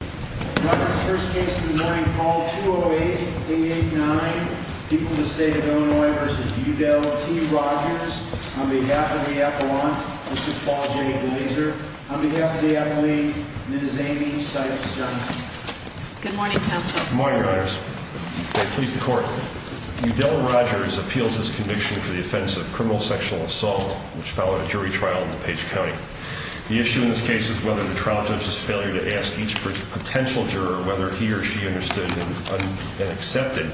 The first case of the morning, Paul 208-889, people of the state of Illinois v. Udell, T. Rogers, on behalf of the Appalachians, this is Paul J. Glazer, on behalf of the Appalachians, and this is Amy Sykes Johnson. Good morning, counsel. Good morning, Your Honors. May it please the Court. Udell Rogers appeals his conviction for the offense of criminal sexual assault, which followed a jury trial in DuPage County. The issue in this case is whether the trial judge's failure to ask each potential juror whether he or she understood and accepted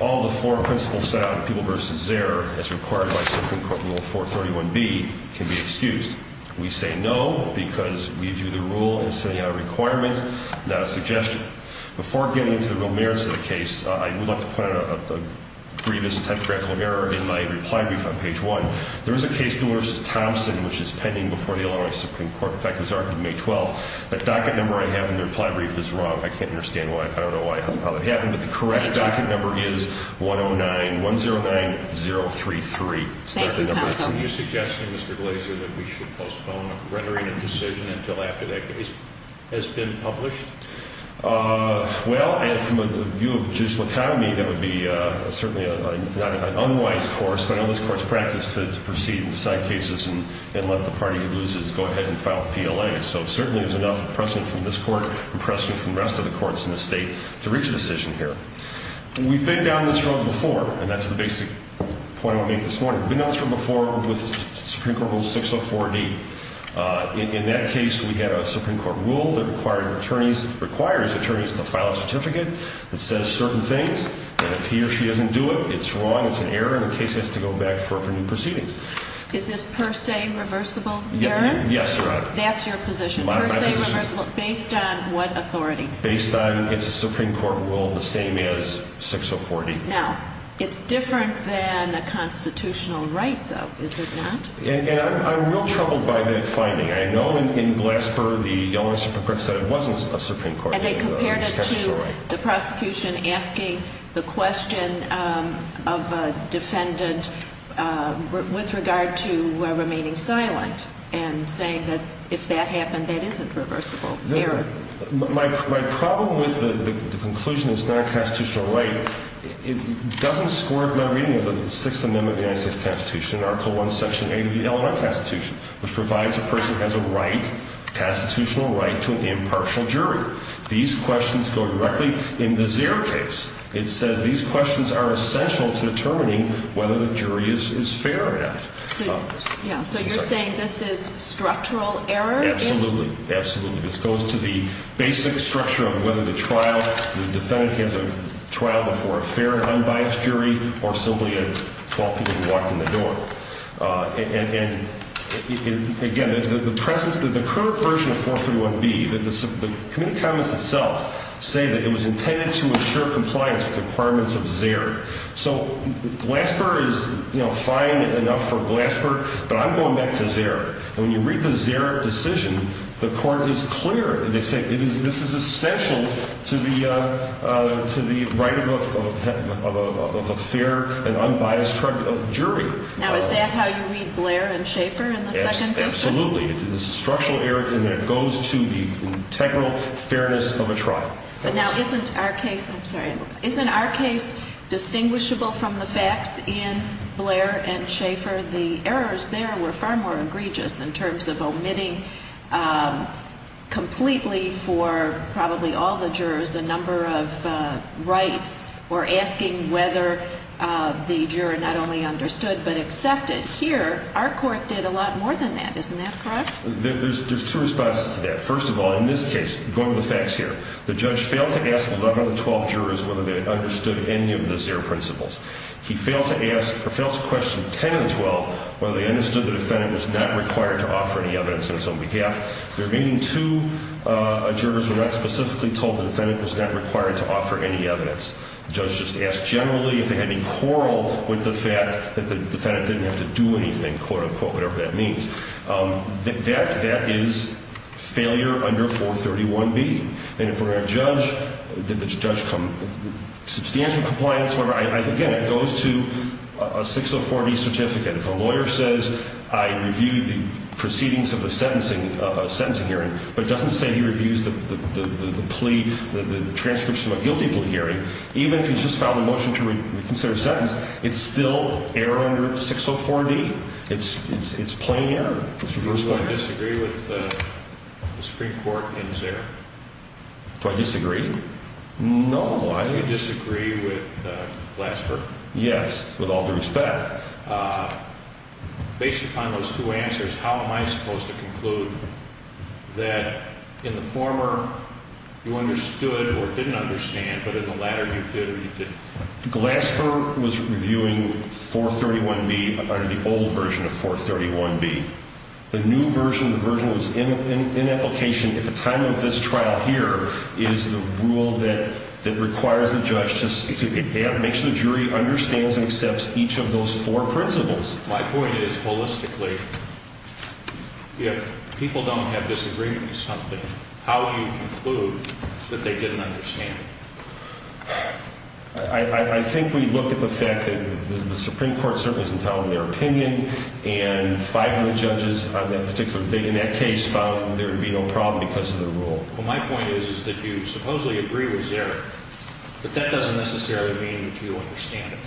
all the four principles set out in People v. Zerr, as required by Supreme Court Rule 431B, can be excused. We say no because we view the rule as setting out a requirement, not a suggestion. Before getting into the real merits of the case, I would like to point out a grievous technical error in my reply brief on page 1. There is a case, Dewar v. Thompson, which is pending before the Illinois Supreme Court. In fact, it was argued May 12th. The docket number I have in the reply brief is wrong. I can't understand why. I don't know how that happened, but the correct docket number is 109-109033. Thank you, counsel. Are you suggesting, Mr. Glazer, that we should postpone rendering a decision until after that case has been published? Well, from the view of judicial economy, that would be certainly an unwise course. I know this court's practice to proceed and decide cases and let the party who loses go ahead and file PLA. So certainly there's enough precedent from this court and precedent from the rest of the courts in the state to reach a decision here. We've been down this road before, and that's the basic point I want to make this morning. We've been down this road before with Supreme Court Rule 604D. In that case, we had a Supreme Court rule that requires attorneys to file a certificate that says certain things, and if he or she doesn't do it, it's wrong, it's an error, and the case has to go back for new proceedings. Is this per se reversible error? Yes, Your Honor. That's your position, per se reversible, based on what authority? Based on, it's a Supreme Court rule, the same as 604D. Now, it's different than a constitutional right, though, is it not? I'm real troubled by that finding. I know in Glasper, the only Supreme Court said it wasn't a Supreme Court rule. And they compared it to the prosecution asking the question of a defendant with regard to remaining silent and saying that if that happened, that isn't reversible error. My problem with the conclusion that it's not a constitutional right, it doesn't score my reading of the Sixth Amendment of the United States Constitution, Article I, Section 8 of the Illinois Constitution, which provides a person has a right, a constitutional right, to an impartial jury. These questions go directly in the zero case. It says these questions are essential to determining whether the jury is fair or not. So you're saying this is structural error? Absolutely. Absolutely. This goes to the basic structure of whether the trial, the defendant has a trial before a fair and unbiased jury or simply a 12 people who walked in the door. And, again, the presence, the current version of 431B, the Committee of Commons itself, say that it was intended to assure compliance with the requirements of ZERR. So Glasper is, you know, fine enough for Glasper, but I'm going back to ZERR. And when you read the ZERR decision, the court is clear. They say this is essential to the right of a fair and unbiased jury. Now, is that how you read Blair and Schaeffer in the Second District? Absolutely. It's a structural error, and it goes to the integral fairness of a trial. But now isn't our case, I'm sorry, isn't our case distinguishable from the facts in Blair and Schaeffer? The errors there were far more egregious in terms of omitting completely for probably all the jurors a number of rights or asking whether the juror not only understood but accepted. Here, our court did a lot more than that. Isn't that correct? There's two responses to that. First of all, in this case, going with the facts here, the judge failed to ask 11 of the 12 jurors whether they understood any of the ZERR principles. He failed to ask or failed to question 10 of the 12 whether they understood the defendant was not required to offer any evidence on his own behalf. The remaining two jurors were not specifically told the defendant was not required to offer any evidence. The judge just asked generally if they had any quarrel with the fact that the defendant didn't have to do anything, quote, unquote, whatever that means. That is failure under 431B. And if we're going to judge, did the judge come with substantial compliance, whatever, again, it goes to a 604D certificate. If a lawyer says I reviewed the proceedings of a sentencing hearing but doesn't say he reviews the plea, the transcripts from a guilty plea hearing, even if he's just filed a motion to reconsider a sentence, it's still error under 604D? It's plain error. Do I disagree with the Supreme Court in ZERR? Do I disagree? No. Do you disagree with Glasper? Yes, with all due respect. Based upon those two answers, how am I supposed to conclude that in the former you understood or didn't understand but in the latter you did or you didn't? Glasper was reviewing 431B, the old version of 431B. The new version, the version that was in application at the time of this trial here, is the rule that requires the judge to make sure the jury understands and accepts each of those four principles. My point is, holistically, if people don't have disagreement with something, how do you conclude that they didn't understand it? I think we look at the fact that the Supreme Court certainly isn't telling their opinion and five of the judges in that particular case found that there would be no problem because of the rule. Well, my point is that you supposedly agree with ZERR, but that doesn't necessarily mean that you understand it.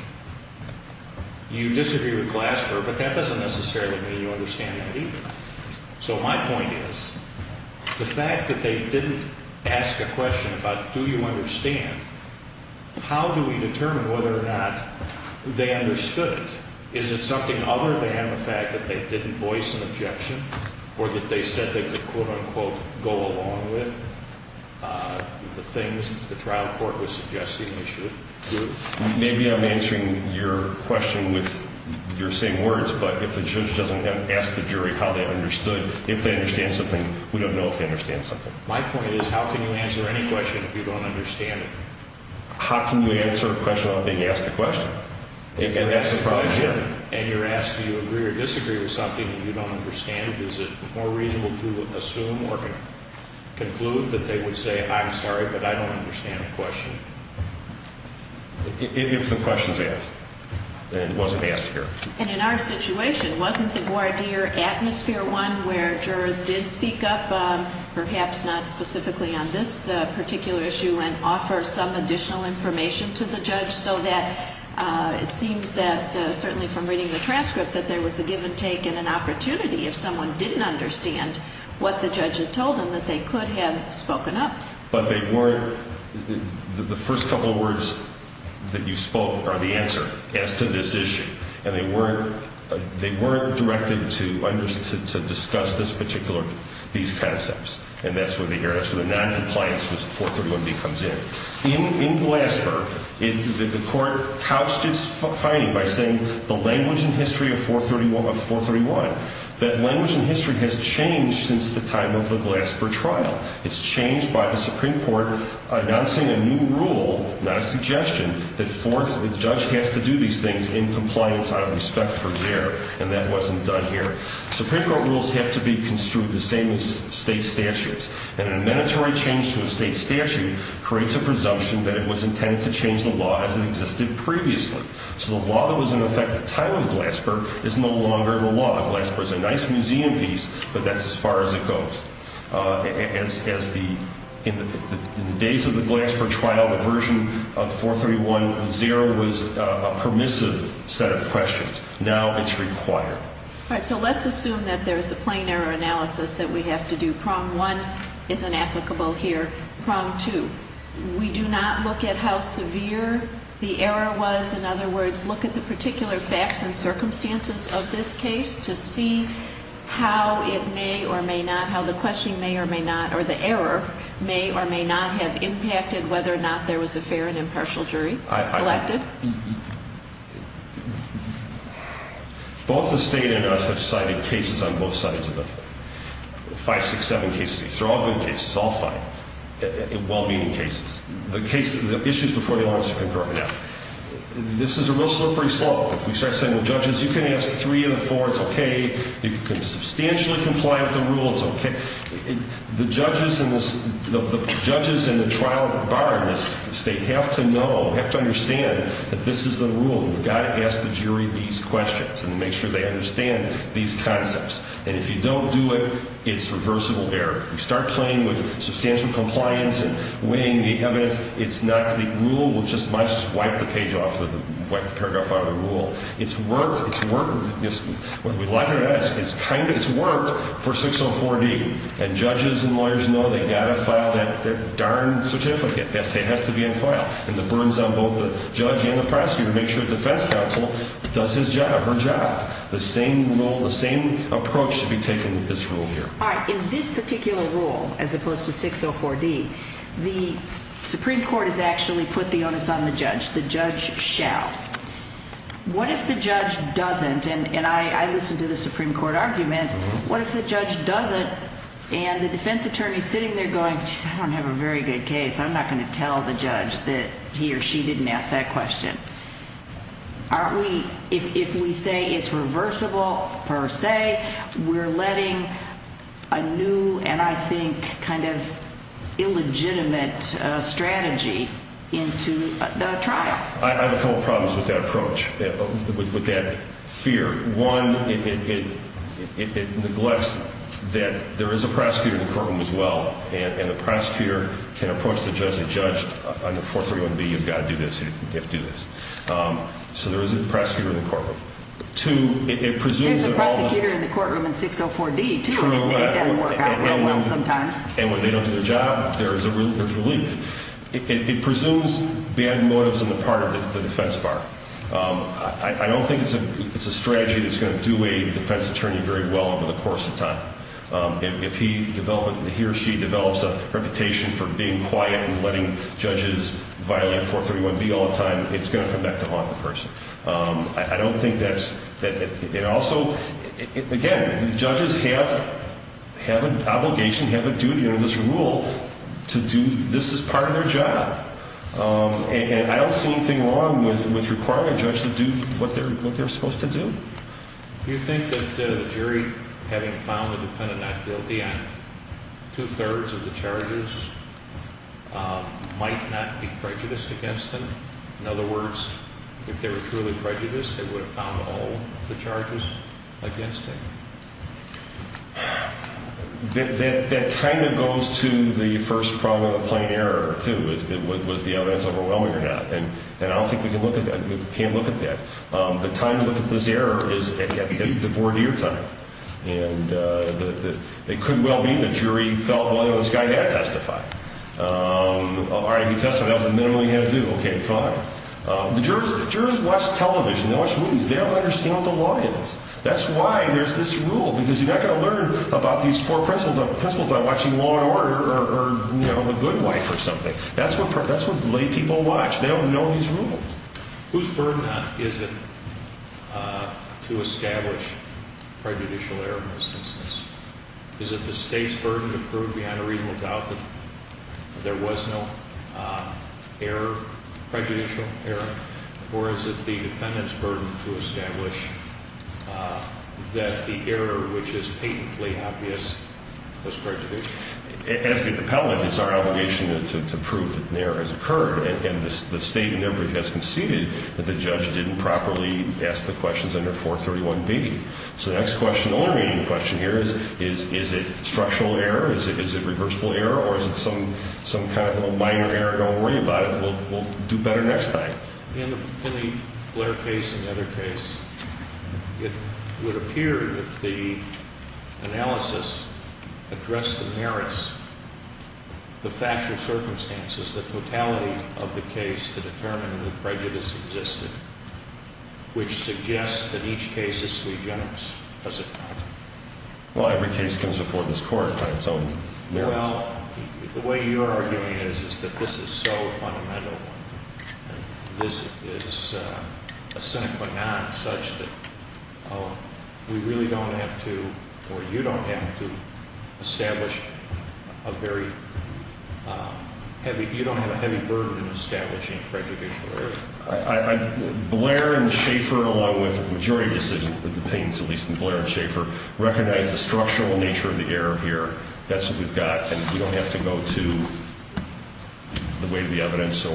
You disagree with Glasper, but that doesn't necessarily mean you understand that either. So my point is, the fact that they didn't ask a question about do you understand, how do we determine whether or not they understood it? Is it something other than the fact that they didn't voice an objection or that they said they could quote-unquote go along with the things that the trial court was suggesting they should do? Maybe I'm answering your question with your same words, but if the judge doesn't ask the jury how they understood, if they understand something, we don't know if they understand something. My point is, how can you answer any question if you don't understand it? How can you answer a question without being asked a question? If you're asked a question and you're asked do you agree or disagree with something and you don't understand it, is it more reasonable to assume or conclude that they would say, I'm sorry, but I don't understand the question? If the question's asked, then it wasn't asked here. And in our situation, wasn't the voir dire atmosphere one where jurors did speak up, perhaps not specifically on this particular issue, and offer some additional information to the judge so that it seems that certainly from reading the transcript that there was a give and take and an opportunity if someone didn't understand what the judge had told them that they could have spoken up? But they weren't, the first couple of words that you spoke are the answer as to this issue. And they weren't directed to discuss this particular, these concepts. And that's where the noncompliance with 431B comes in. In Glasper, the court couched its finding by saying the language and history of 431, that language and history has changed since the time of the Glasper trial. It's changed by the Supreme Court announcing a new rule, not a suggestion, that fourth, the judge has to do these things in compliance out of respect for their, and that wasn't done here. Supreme Court rules have to be construed the same as state statutes. And an amenitory change to a state statute creates a presumption that it was intended to change the law as it existed previously. So the law that was in effect at the time of Glasper is no longer the law. The law of Glasper is a nice museum piece, but that's as far as it goes. As the, in the days of the Glasper trial, the version of 431-0 was a permissive set of questions. Now it's required. All right, so let's assume that there's a plain error analysis that we have to do. Prompt one is inapplicable here. Prompt two, we do not look at how severe the error was. In other words, look at the particular facts and circumstances of this case to see how it may or may not, how the question may or may not, or the error may or may not have impacted whether or not there was a fair and impartial jury selected. Both the state and us have cited cases on both sides of it. Five, six, seven cases. They're all good cases, all fine, well-meaning cases. The case, the issues before the audience have been brought up. This is a real slippery slope. If we start saying, well, judges, you can ask three of the four. It's okay. You can substantially comply with the rules. It's okay. The judges in this, the judges in the trial bar in this state have to know, have to understand that this is the rule. You've got to ask the jury these questions and make sure they understand these concepts. And if you don't do it, it's reversible error. If we start playing with substantial compliance and weighing the evidence, it's not the rule. We'll just wipe the page off, wipe the paragraph out of the rule. It's worked. It's worked. It's worked for 604D. And judges and lawyers know they've got to file that darn certificate. It has to be in file. And the burden's on both the judge and the prosecutor to make sure the defense counsel does his job, her job. The same rule, the same approach should be taken with this rule here. All right, in this particular rule, as opposed to 604D, the Supreme Court has actually put the onus on the judge. The judge shall. What if the judge doesn't? And I listened to the Supreme Court argument. What if the judge doesn't and the defense attorney's sitting there going, I don't have a very good case. I'm not going to tell the judge that he or she didn't ask that question. If we say it's reversible per se, we're letting a new and, I think, kind of illegitimate strategy into the trial. I have a couple problems with that approach, with that fear. One, it neglects that there is a prosecutor in the courtroom as well. And the prosecutor can approach the judge and judge under 431B, you've got to do this. You have to do this. So there is a prosecutor in the courtroom. Two, it presumes that all the- There's a prosecutor in the courtroom in 604D, too, and it doesn't work out well sometimes. And when they don't do their job, there's relief. It presumes bad motives on the part of the defense bar. I don't think it's a strategy that's going to do a defense attorney very well over the course of time. If he or she develops a reputation for being quiet and letting judges violate 431B all the time, it's going to come back to haunt the person. I don't think that's- It also- Again, judges have an obligation, have a duty under this rule to do this as part of their job. And I don't see anything wrong with requiring a judge to do what they're supposed to do. Do you think that the jury, having found the defendant not guilty on two-thirds of the charges, might not be prejudiced against him? In other words, if they were truly prejudiced, they would have found all the charges against him. That kind of goes to the first problem of the plain error, too. Was the evidence overwhelming or not? And I don't think we can look at that. We can't look at that. The time to look at this error is at the four-year time. And it could well be the jury felt, well, this guy had to testify. All right, he testified. That was the minimum he had to do. Okay, fine. The jurors watch television. They watch movies. They don't understand what the law is. That's why there's this rule, because you're not going to learn about these four principles by watching Law and Order or The Good Wife or something. That's what lay people watch. They don't know these rules. Whose burden is it to establish prejudicial error in this instance? Is it the State's burden to prove beyond a reasonable doubt that there was no error, prejudicial error? Or is it the defendant's burden to establish that the error, which is patently obvious, was prejudicial? As the appellant, it's our obligation to prove that an error has occurred. And the State in their brief has conceded that the judge didn't properly ask the questions under 431B. So the next question, the only remaining question here is, is it structural error? Is it reversible error? Or is it some kind of a minor error? Don't worry about it. We'll do better next time. In the Blair case and the other case, it would appear that the analysis addressed the merits, the factual circumstances, the totality of the case to determine whether prejudice existed, which suggests that each case is sui generis. Does it not? Well, every case comes before this Court by its own merits. Well, the way you're arguing it is that this is so fundamental. This is a sine qua non such that we really don't have to, or you don't have to, establish a very heavy, you don't have a heavy burden in establishing prejudicial error. Blair and Schaefer, along with the majority of the decisions of the plaintiffs, at least in Blair and Schaefer, recognize the structural nature of the error here. That's what we've got. And we don't have to go to the weight of the evidence.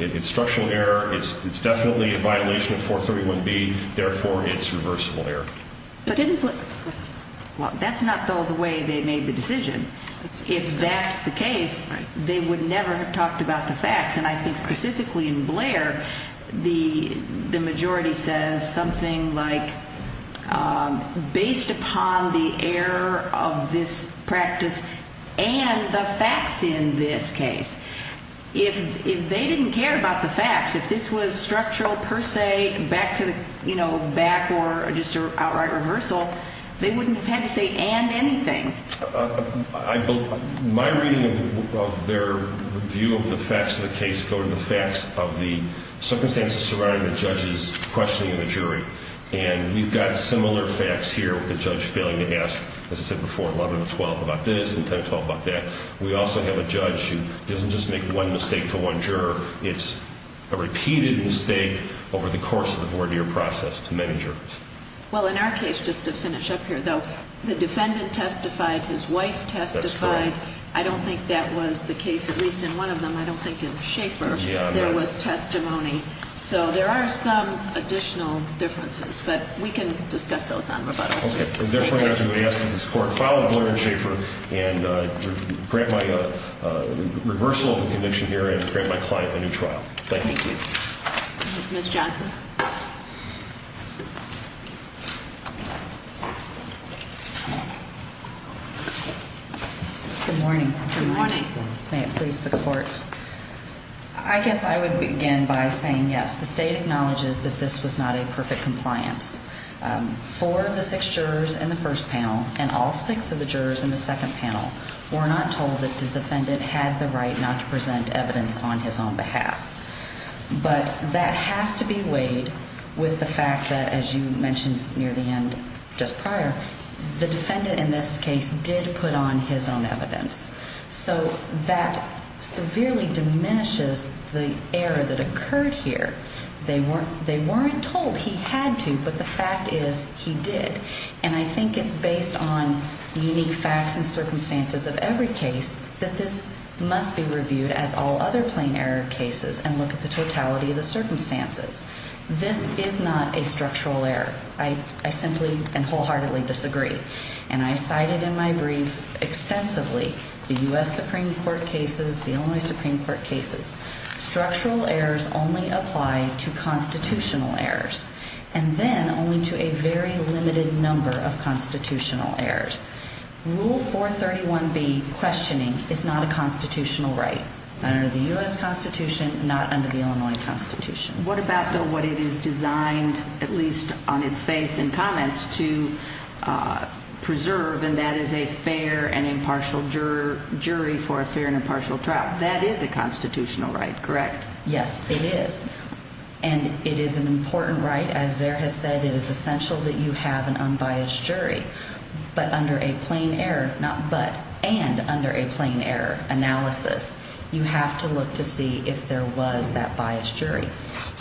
It's structural error. It's definitely a violation of 431B. Therefore, it's reversible error. Well, that's not, though, the way they made the decision. If that's the case, they would never have talked about the facts. And I think specifically in Blair, the majority says something like, based upon the error of this practice and the facts in this case. If they didn't care about the facts, if this was structural per se back to the, you know, back or just an outright reversal, they wouldn't have had to say and anything. My reading of their view of the facts of the case go to the facts of the circumstances surrounding the judge's questioning of the jury. And we've got similar facts here with the judge failing to ask, as I said before, 11 and 12 about this and 10 and 12 about that. We also have a judge who doesn't just make one mistake to one juror. It's a repeated mistake over the course of the voir dire process to many jurors. Well, in our case, just to finish up here, though, the defendant testified, his wife testified. That's correct. I don't think that was the case, at least in one of them. I don't think in Schaefer there was testimony. So there are some additional differences, but we can discuss those on rebuttal. Okay. Therefore, I'm going to ask that this Court follow Blair and Schaefer and grant my reversal of the conviction here and grant my client a new trial. Thank you. Thank you. Ms. Johnson. Good morning. Good morning. May it please the Court. I guess I would begin by saying, yes, the State acknowledges that this was not a perfect compliance. Four of the six jurors in the first panel and all six of the jurors in the second panel were not told that the defendant had the right not to present evidence on his own behalf. But that has to be weighed with the fact that, as you mentioned near the end just prior, the defendant in this case did put on his own evidence. So that severely diminishes the error that occurred here. They weren't told he had to, but the fact is he did. And I think it's based on unique facts and circumstances of every case that this must be reviewed as all other plain error cases and look at the totality of the circumstances. This is not a structural error. I simply and wholeheartedly disagree. And I cited in my brief extensively the U.S. Supreme Court cases, the Illinois Supreme Court cases. Structural errors only apply to constitutional errors and then only to a very limited number of constitutional errors. Rule 431B questioning is not a constitutional right, not under the U.S. Constitution, not under the Illinois Constitution. What about, though, what it is designed, at least on its face and comments, to preserve, and that is a fair and impartial jury for a fair and impartial trial? That is a constitutional right, correct? Yes, it is. And it is an important right. As Zaire has said, it is essential that you have an unbiased jury. But under a plain error, not but, and under a plain error analysis, you have to look to see if there was that biased jury.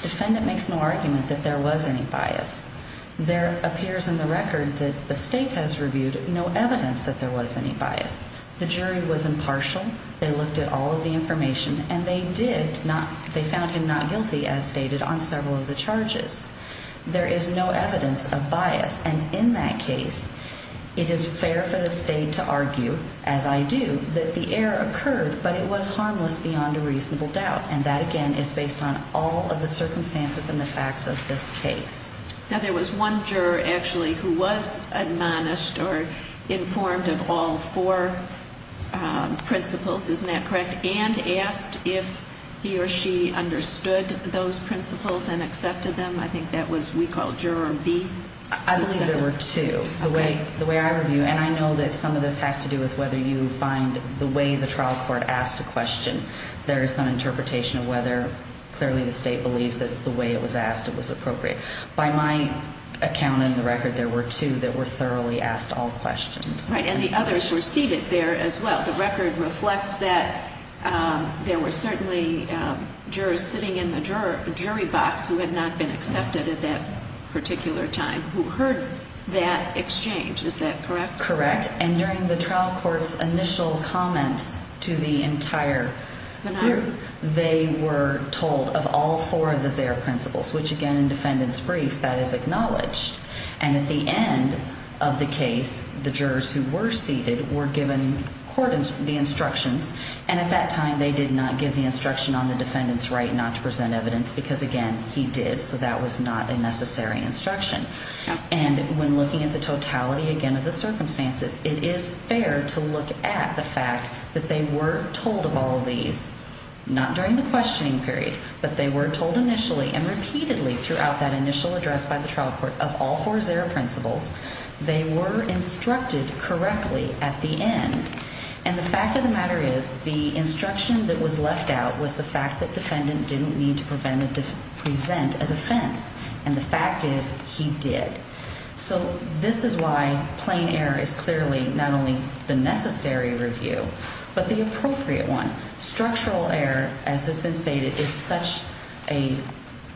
Defendant makes no argument that there was any bias. There appears in the record that the state has reviewed no evidence that there was any bias. The jury was impartial. They looked at all of the information, and they did not, they found him not guilty, as stated, on several of the charges. There is no evidence of bias, and in that case, it is fair for the state to argue, as I do, that the error occurred, but it was harmless beyond a reasonable doubt. And that, again, is based on all of the circumstances and the facts of this case. Now, there was one juror, actually, who was admonished or informed of all four principles, isn't that correct, and asked if he or she understood those principles and accepted them. I think that was, we call, Juror B specifically. I believe there were two. Okay. The way I review, and I know that some of this has to do with whether you find the way the trial court asked a question, there is some interpretation of whether clearly the state believes that the way it was asked, it was appropriate. By my account in the record, there were two that were thoroughly asked all questions. Right, and the others were seated there as well. The record reflects that there were certainly jurors sitting in the jury box who had not been accepted at that particular time who heard that exchange. Is that correct? Correct, and during the trial court's initial comments to the entire group, they were told of all four of the ZARE principles, which, again, in defendant's brief, that is acknowledged. And at the end of the case, the jurors who were seated were given the instructions, and at that time they did not give the instruction on the defendant's right not to present evidence because, again, he did, so that was not a necessary instruction. And when looking at the totality, again, of the circumstances, it is fair to look at the fact that they were told of all of these, not during the questioning period, but they were told initially and repeatedly throughout that initial address by the trial court of all four ZARE principles, they were instructed correctly at the end. And the fact of the matter is the instruction that was left out was the fact that defendant didn't need to present a defense, and the fact is he did. So this is why plain error is clearly not only the necessary review, but the appropriate one. Structural error, as has been stated, is such an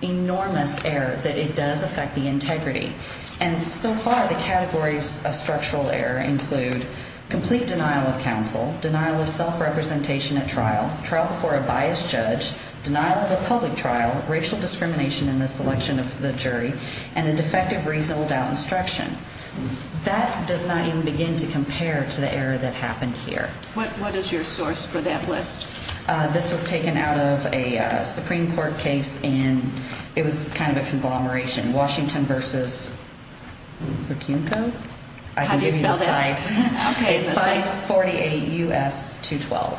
enormous error that it does affect the integrity. And so far the categories of structural error include complete denial of counsel, denial of self-representation at trial, trial before a biased judge, denial of a public trial, racial discrimination in the selection of the jury, and a defective reasonable doubt instruction. That does not even begin to compare to the error that happened here. What is your source for that list? This was taken out of a Supreme Court case, and it was kind of a conglomeration, Washington v. Vicunto? How do you spell that? I can give you the site. Okay. It's 548 U.S. 212,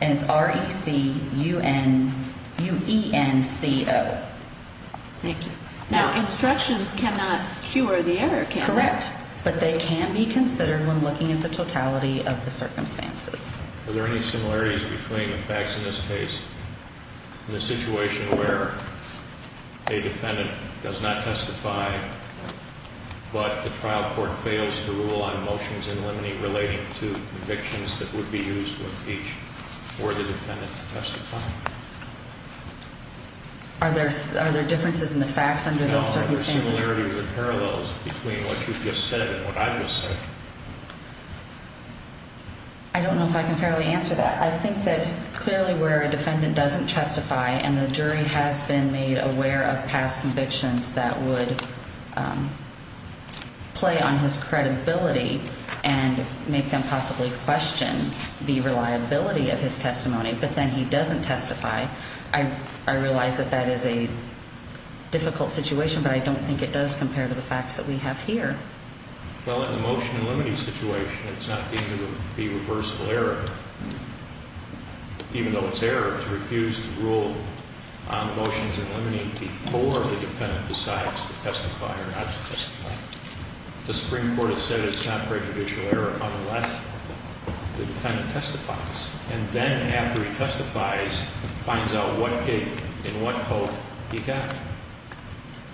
and it's R-E-C-U-N-U-E-N-C-O. Thank you. Now, instructions cannot cure the error, can they? Correct, but they can be considered when looking at the totality of the circumstances. Are there any similarities between the facts in this case and the situation where a defendant does not testify, but the trial court fails to rule on motions in limine relating to convictions that would be used to impeach for the defendant to testify? Are there differences in the facts under those circumstances? No. Are there similarities or parallels between what you just said and what I just said? I don't know if I can fairly answer that. I think that clearly where a defendant doesn't testify and the jury has been made aware of past convictions that would play on his credibility and make them possibly question the reliability of his testimony, but then he doesn't testify, I realize that that is a difficult situation, but I don't think it does compare to the facts that we have here. Well, in the motion in limine situation, it's not deemed to be reversible error, even though it's error to refuse to rule on motions in limine before the defendant decides to testify or not to testify. The Supreme Court has said it's not prejudicial error unless the defendant testifies, and then after he testifies, finds out what gave him and what hope he got.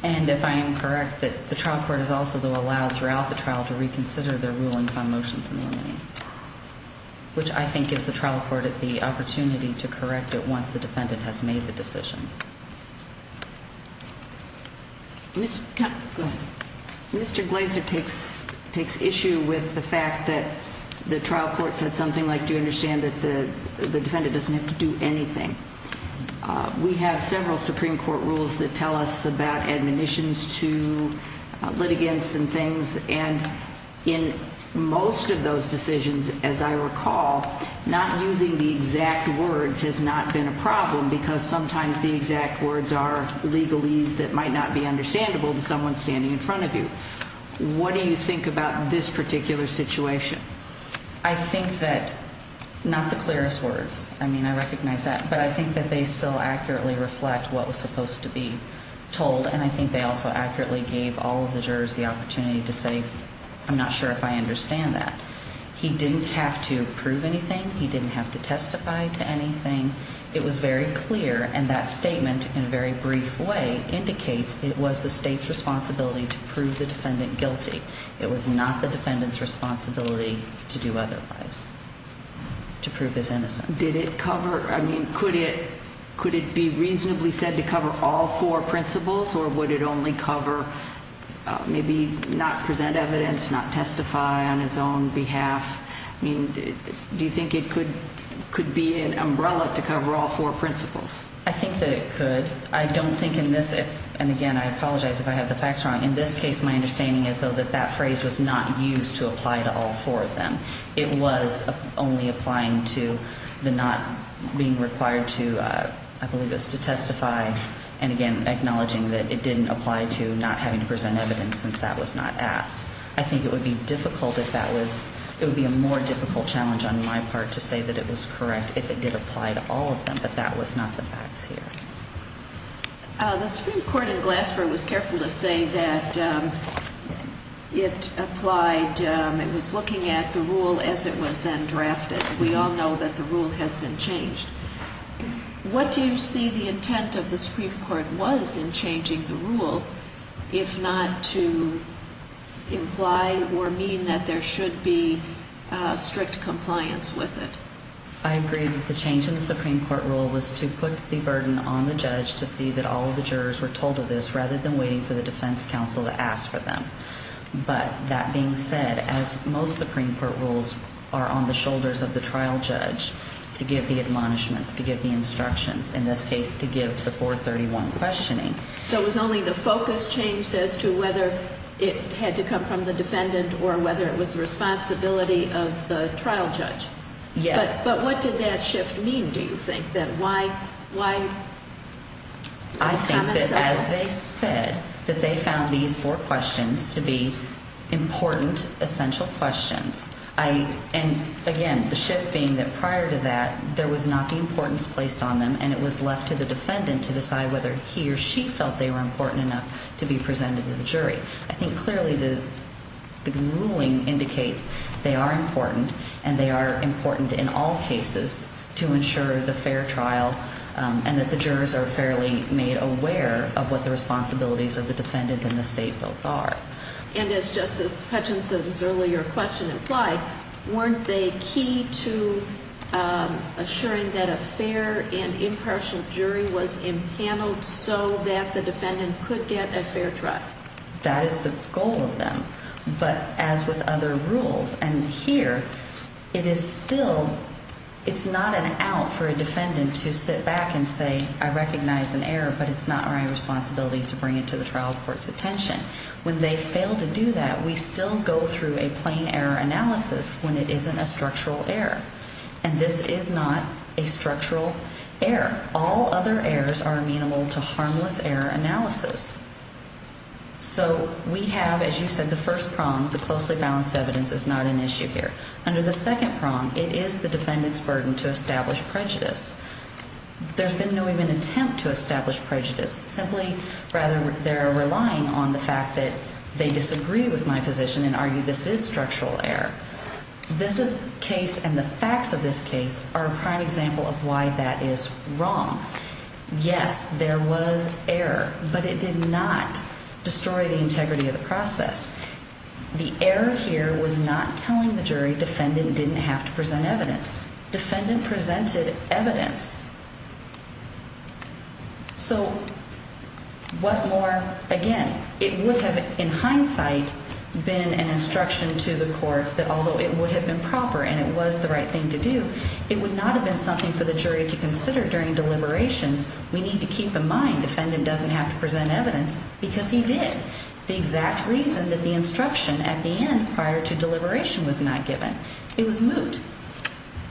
And if I am correct, that the trial court has also, though, allowed throughout the trial to reconsider their rulings on motions in limine, which I think gives the trial court the opportunity to correct it once the defendant has made the decision. Mr. Glazer takes issue with the fact that the trial court said something like, do you understand that the defendant doesn't have to do anything? We have several Supreme Court rules that tell us about admonitions to litigants and things, and in most of those decisions, as I recall, not using the exact words has not been a problem because sometimes the exact words are legalese that might not be understandable to someone standing in front of you. What do you think about this particular situation? I think that, not the clearest words, I mean, I recognize that, but I think that they still accurately reflect what was supposed to be told, and I think they also accurately gave all of the jurors the opportunity to say, I'm not sure if I understand that. He didn't have to prove anything. He didn't have to testify to anything. It was very clear, and that statement in a very brief way indicates it was the state's responsibility to prove the defendant guilty. It was not the defendant's responsibility to do otherwise, to prove his innocence. Did it cover, I mean, could it be reasonably said to cover all four principles, or would it only cover maybe not present evidence, not testify on his own behalf? I mean, do you think it could be an umbrella to cover all four principles? I think that it could. I don't think in this, and again, I apologize if I have the facts wrong. In this case, my understanding is that that phrase was not used to apply to all four of them. It was only applying to the not being required to, I believe it was to testify, and again, acknowledging that it didn't apply to not having to present evidence since that was not asked. I think it would be difficult if that was, it would be a more difficult challenge on my part to say that it was correct if it did apply to all of them, but that was not the facts here. The Supreme Court in Glassboro was careful to say that it applied, it was looking at the rule as it was then drafted. We all know that the rule has been changed. What do you see the intent of the Supreme Court was in changing the rule, if not to imply or mean that there should be strict compliance with it? I agree that the change in the Supreme Court rule was to put the burden on the judge to see that all of the jurors were told of this rather than waiting for the defense counsel to ask for them. But that being said, as most Supreme Court rules are on the shoulders of the trial judge to give the admonishments, to give the instructions, in this case to give the 431 questioning. So it was only the focus changed as to whether it had to come from the defendant or whether it was the responsibility of the trial judge. Yes. But what did that shift mean, do you think? I think that as they said, that they found these 4 questions to be important, essential questions. And again, the shift being that prior to that, there was not the importance placed on them and it was left to the defendant to decide whether he or she felt they were important enough to be presented to the jury. I think clearly the ruling indicates they are important and they are important in all cases to ensure the fair trial and that the jurors are fairly made aware of what the responsibilities of the defendant and the state both are. And as Justice Hutchinson's earlier question implied, weren't they key to assuring that a fair and impartial jury was impaneled so that the defendant could get a fair trial? That is the goal of them. But as with other rules, and here, it is still, it's not an out for a defendant to sit back and say, I recognize an error, but it's not my responsibility to bring it to the trial court's attention. When they fail to do that, we still go through a plain error analysis when it isn't a structural error. And this is not a structural error. All other errors are amenable to harmless error analysis. So we have, as you said, the first prong, the closely balanced evidence is not an issue here. Under the second prong, it is the defendant's burden to establish prejudice. There's been no even attempt to establish prejudice. Simply, rather, they're relying on the fact that they disagree with my position and argue this is structural error. This case and the facts of this case are a prime example of why that is wrong. Yes, there was error, but it did not destroy the integrity of the process. The error here was not telling the jury defendant didn't have to present evidence. Defendant presented evidence. So what more? Again, it would have, in hindsight, been an instruction to the court that although it would have been proper and it was the right thing to do, it would not have been something for the jury to consider during deliberations. We need to keep in mind defendant doesn't have to present evidence because he did. The exact reason that the instruction at the end prior to deliberation was not given. It was moot.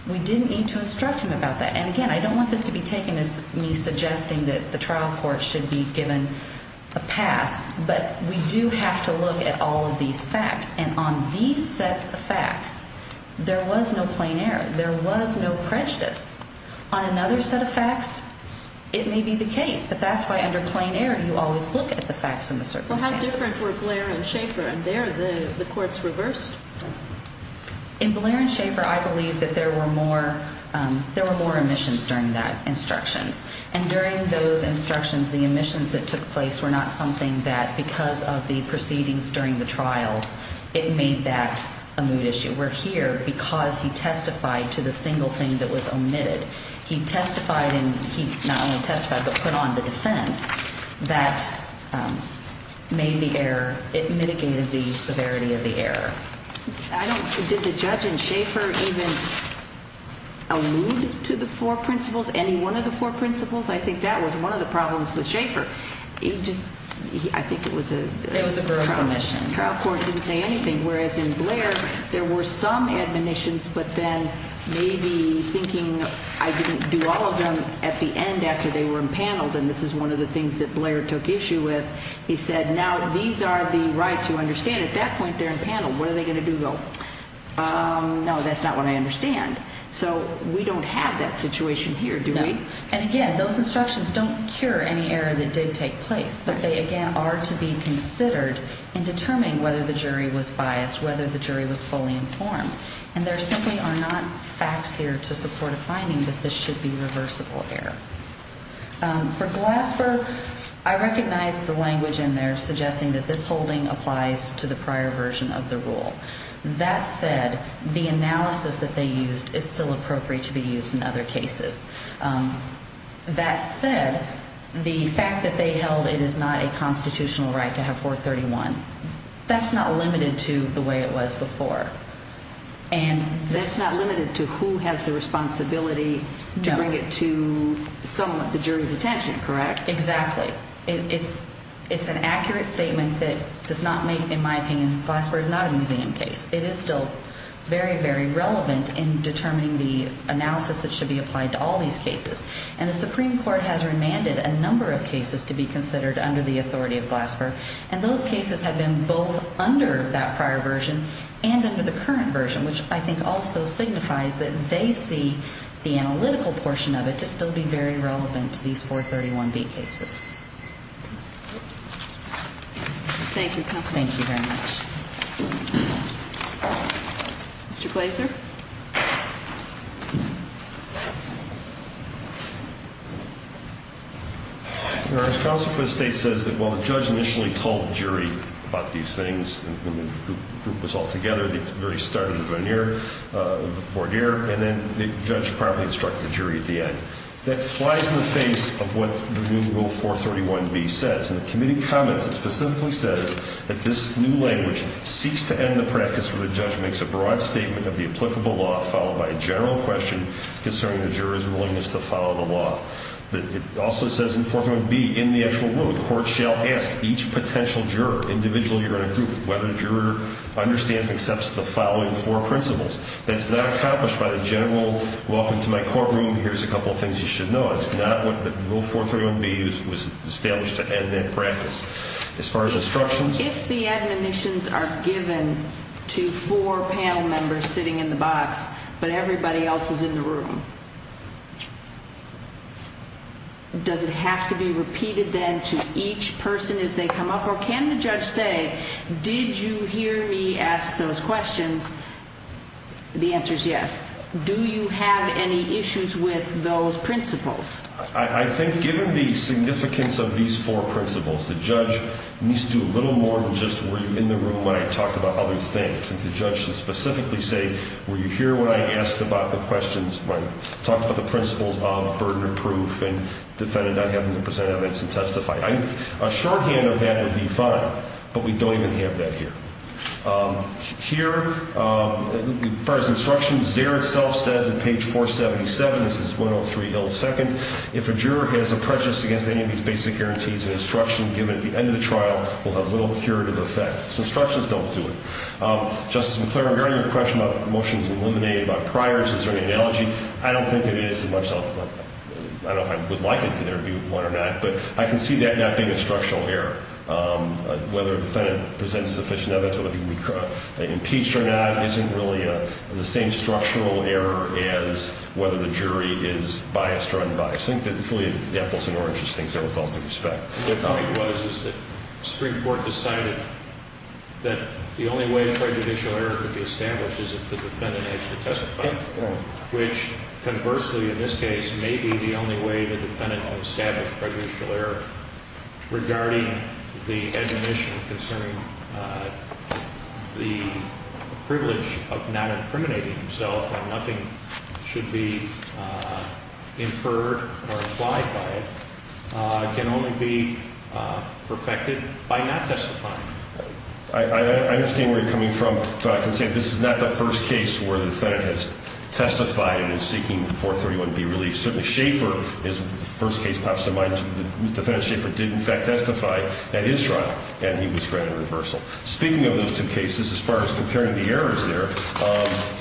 We didn't need to instruct him about that. And again, I don't want this to be taken as me suggesting that the trial court should be given a pass. But we do have to look at all of these facts. And on these sets of facts, there was no plain error. There was no prejudice. On another set of facts, it may be the case. But that's why under plain error, you always look at the facts and the circumstances. Well, how different were Blair and Schaffer? And there, the courts reversed? In Blair and Schaffer, I believe that there were more omissions during that instructions. And during those instructions, the omissions that took place were not something that because of the proceedings during the trials, it made that a moot issue. We're here because he testified to the single thing that was omitted. He testified and he not only testified but put on the defense that made the error. It mitigated the severity of the error. Did the judge in Schaffer even allude to the four principles, any one of the four principles? I think that was one of the problems with Schaffer. I think it was a gross omission. The trial court didn't say anything. Whereas in Blair, there were some admonitions but then maybe thinking I didn't do all of them at the end after they were impaneled. And this is one of the things that Blair took issue with. He said, now, these are the rights you understand. At that point, they're impaneled. What are they going to do, though? No, that's not what I understand. So we don't have that situation here, do we? And, again, those instructions don't cure any error that did take place. But they, again, are to be considered in determining whether the jury was biased, whether the jury was fully informed. And there simply are not facts here to support a finding that this should be reversible error. For Glasper, I recognize the language in there suggesting that this holding applies to the prior version of the rule. That said, the analysis that they used is still appropriate to be used in other cases. That said, the fact that they held it is not a constitutional right to have 431, that's not limited to the way it was before. And that's not limited to who has the responsibility to bring it to some of the jury's attention, correct? Exactly. It's an accurate statement that does not make, in my opinion, Glasper is not a museum case. It is still very, very relevant in determining the analysis that should be applied to all these cases. And the Supreme Court has remanded a number of cases to be considered under the authority of Glasper. And those cases have been both under that prior version and under the current version, which I think also signifies that they see the analytical portion of it to still be very relevant to these 431B cases. Thank you, counsel. Thank you very much. Mr. Glaser. Your Honor, as counsel for the State says that while the judge initially told the jury about these things when the group was all together, the jury started the veneer, the voir dire, and then the judge promptly instructed the jury at the end. That flies in the face of what the new Rule 431B says. In the committee comments, it specifically says that this new language seeks to end the practice where the judge makes a broad statement of the applicable law followed by a general question concerning the juror's willingness to follow the law. It also says in 431B, in the actual rule, the court shall ask each potential juror, individually or in a group, whether the juror understands and accepts the following four principles. That's not accomplished by the general, welcome to my courtroom, here's a couple of things you should know. It's not what the Rule 431B was established to end in practice. As far as instructions. If the admonitions are given to four panel members sitting in the box, but everybody else is in the room, does it have to be repeated then to each person as they come up? Or can the judge say, did you hear me ask those questions? The answer is yes. Do you have any issues with those principles? I think given the significance of these four principles, the judge needs to do a little more than just were you in the room when I talked about other things. The judge should specifically say, were you here when I asked about the questions, when I talked about the principles of burden of proof and defended not having to present evidence and testify. A shorthand of that would be fine, but we don't even have that here. Here, as far as instructions, there itself says in page 477, this is 103 Hill 2nd. If a juror has a prejudice against any of these basic guarantees and instruction given at the end of the trial, will have little curative effect. So instructions don't do it. Justice McClaren, regarding your question about motions eliminated by priors, is there any analogy? I don't think it is in myself. I don't know if I would like it to there be one or not, but I can see that not being a structural error. Whether a defendant presents sufficient evidence, whether he can be impeached or not, isn't really the same structural error as whether the jury is biased or unbiased. I think that the apples and oranges things are with all due respect. The point was that the Supreme Court decided that the only way a prejudicial error could be established is if the defendant had to testify, which conversely in this case may be the only way the defendant can establish prejudicial error regarding the admonition concerning the privilege of not incriminating himself and nothing should be inferred or implied by it can only be perfected by not testifying. I understand where you're coming from, but I can say this is not the first case where the defendant has testified and is seeking 431B relief. Certainly Schaefer, his first case pops to mind, the defendant Schaefer did in fact testify at his trial and he was granted reversal. Speaking of those two cases, as far as comparing the errors there,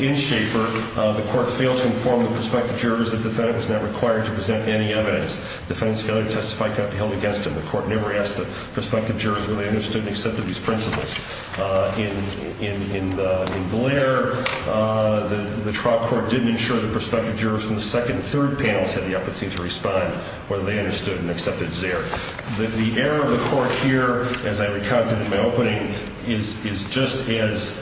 in Schaefer, the court failed to inform the prospective jurors that the defendant was not required to present any evidence. The defendant's failure to testify cannot be held against him. The court never asked the prospective jurors whether they understood and accepted these principles. In Blair, the trial court didn't ensure the prospective jurors from the second and third panels had the opportunity to respond whether they understood and accepted Xer. The error of the court here, as I recounted in my opening, is just as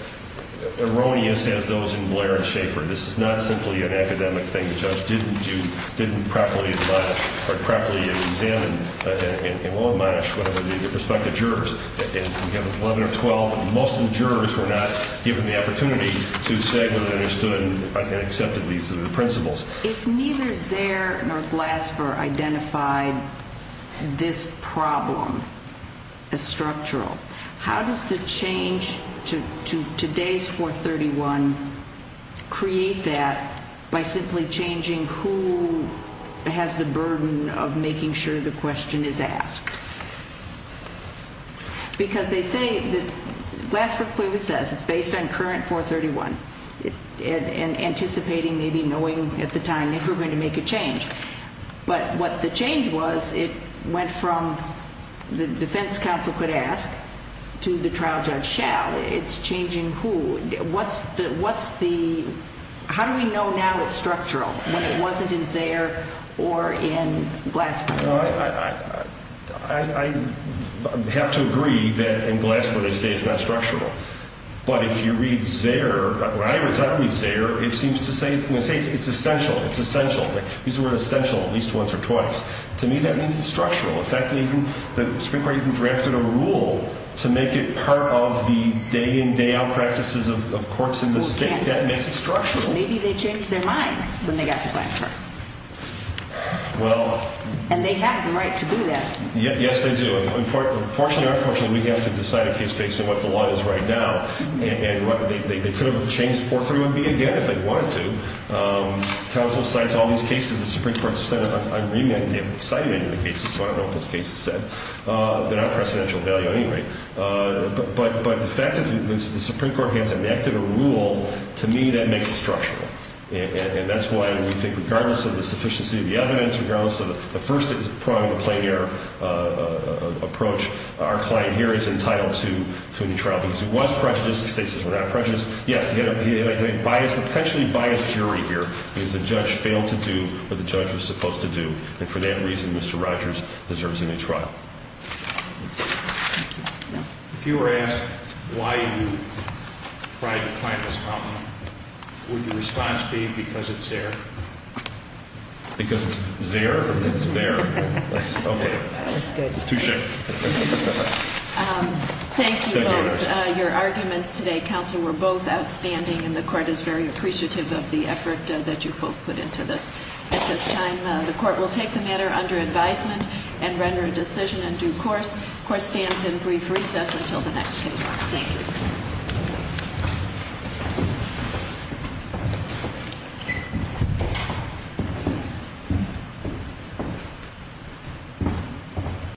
erroneous as those in Blair and Schaefer. This is not simply an academic thing the judge didn't do, didn't properly admonish or properly examine or admonish the prospective jurors. In 11 or 12, most of the jurors were not given the opportunity to say whether they understood and accepted these principles. If neither Xer nor Glasper identified this problem as structural, how does the change to today's 431 create that by simply changing who has the burden of making sure the question is asked? Because they say, Glasper clearly says it's based on current 431 and anticipating maybe knowing at the time they were going to make a change. But what the change was, it went from the defense counsel could ask to the trial judge shall. It's changing who. How do we know now it's structural when it wasn't in Xer or in Glasper? I have to agree that in Glasper they say it's not structural. But if you read Xer, when I read Xer, it seems to say it's essential, it's essential. These are essential at least once or twice. To me that means it's structural. In fact, the Supreme Court even drafted a rule to make it part of the day-in, day-out practices of courts in this state. That makes it structural. Maybe they changed their mind when they got to Glasper. And they have the right to do this. Yes, they do. Unfortunately or unfortunately, we have to decide a case based on what the law is right now. They could have changed 431B again if they wanted to. Counsel cites all these cases the Supreme Court has set up. I read them and they haven't cited any of the cases, so I don't know what those cases said. They're not of precedential value anyway. But the fact that the Supreme Court has enacted a rule, to me that makes it structural. And that's why we think regardless of the sufficiency of the evidence, regardless of the first prong of the plain error approach, our client here is entitled to a new trial because he was prejudiced, his cases were not prejudiced. Yes, he had a potentially biased jury here because the judge failed to do what the judge was supposed to do. And for that reason, Mr. Rogers deserves a new trial. If you were asked why you tried to find this problem, would your response be because it's there? Because it's there or because it's there? Okay. That's good. Touche. Thank you both. Your arguments today, counsel, were both outstanding, and the court is very appreciative of the effort that you both put into this. At this time, the court will take the matter under advisement and render a decision in due course. The court stands in brief recess until the next case. Thank you.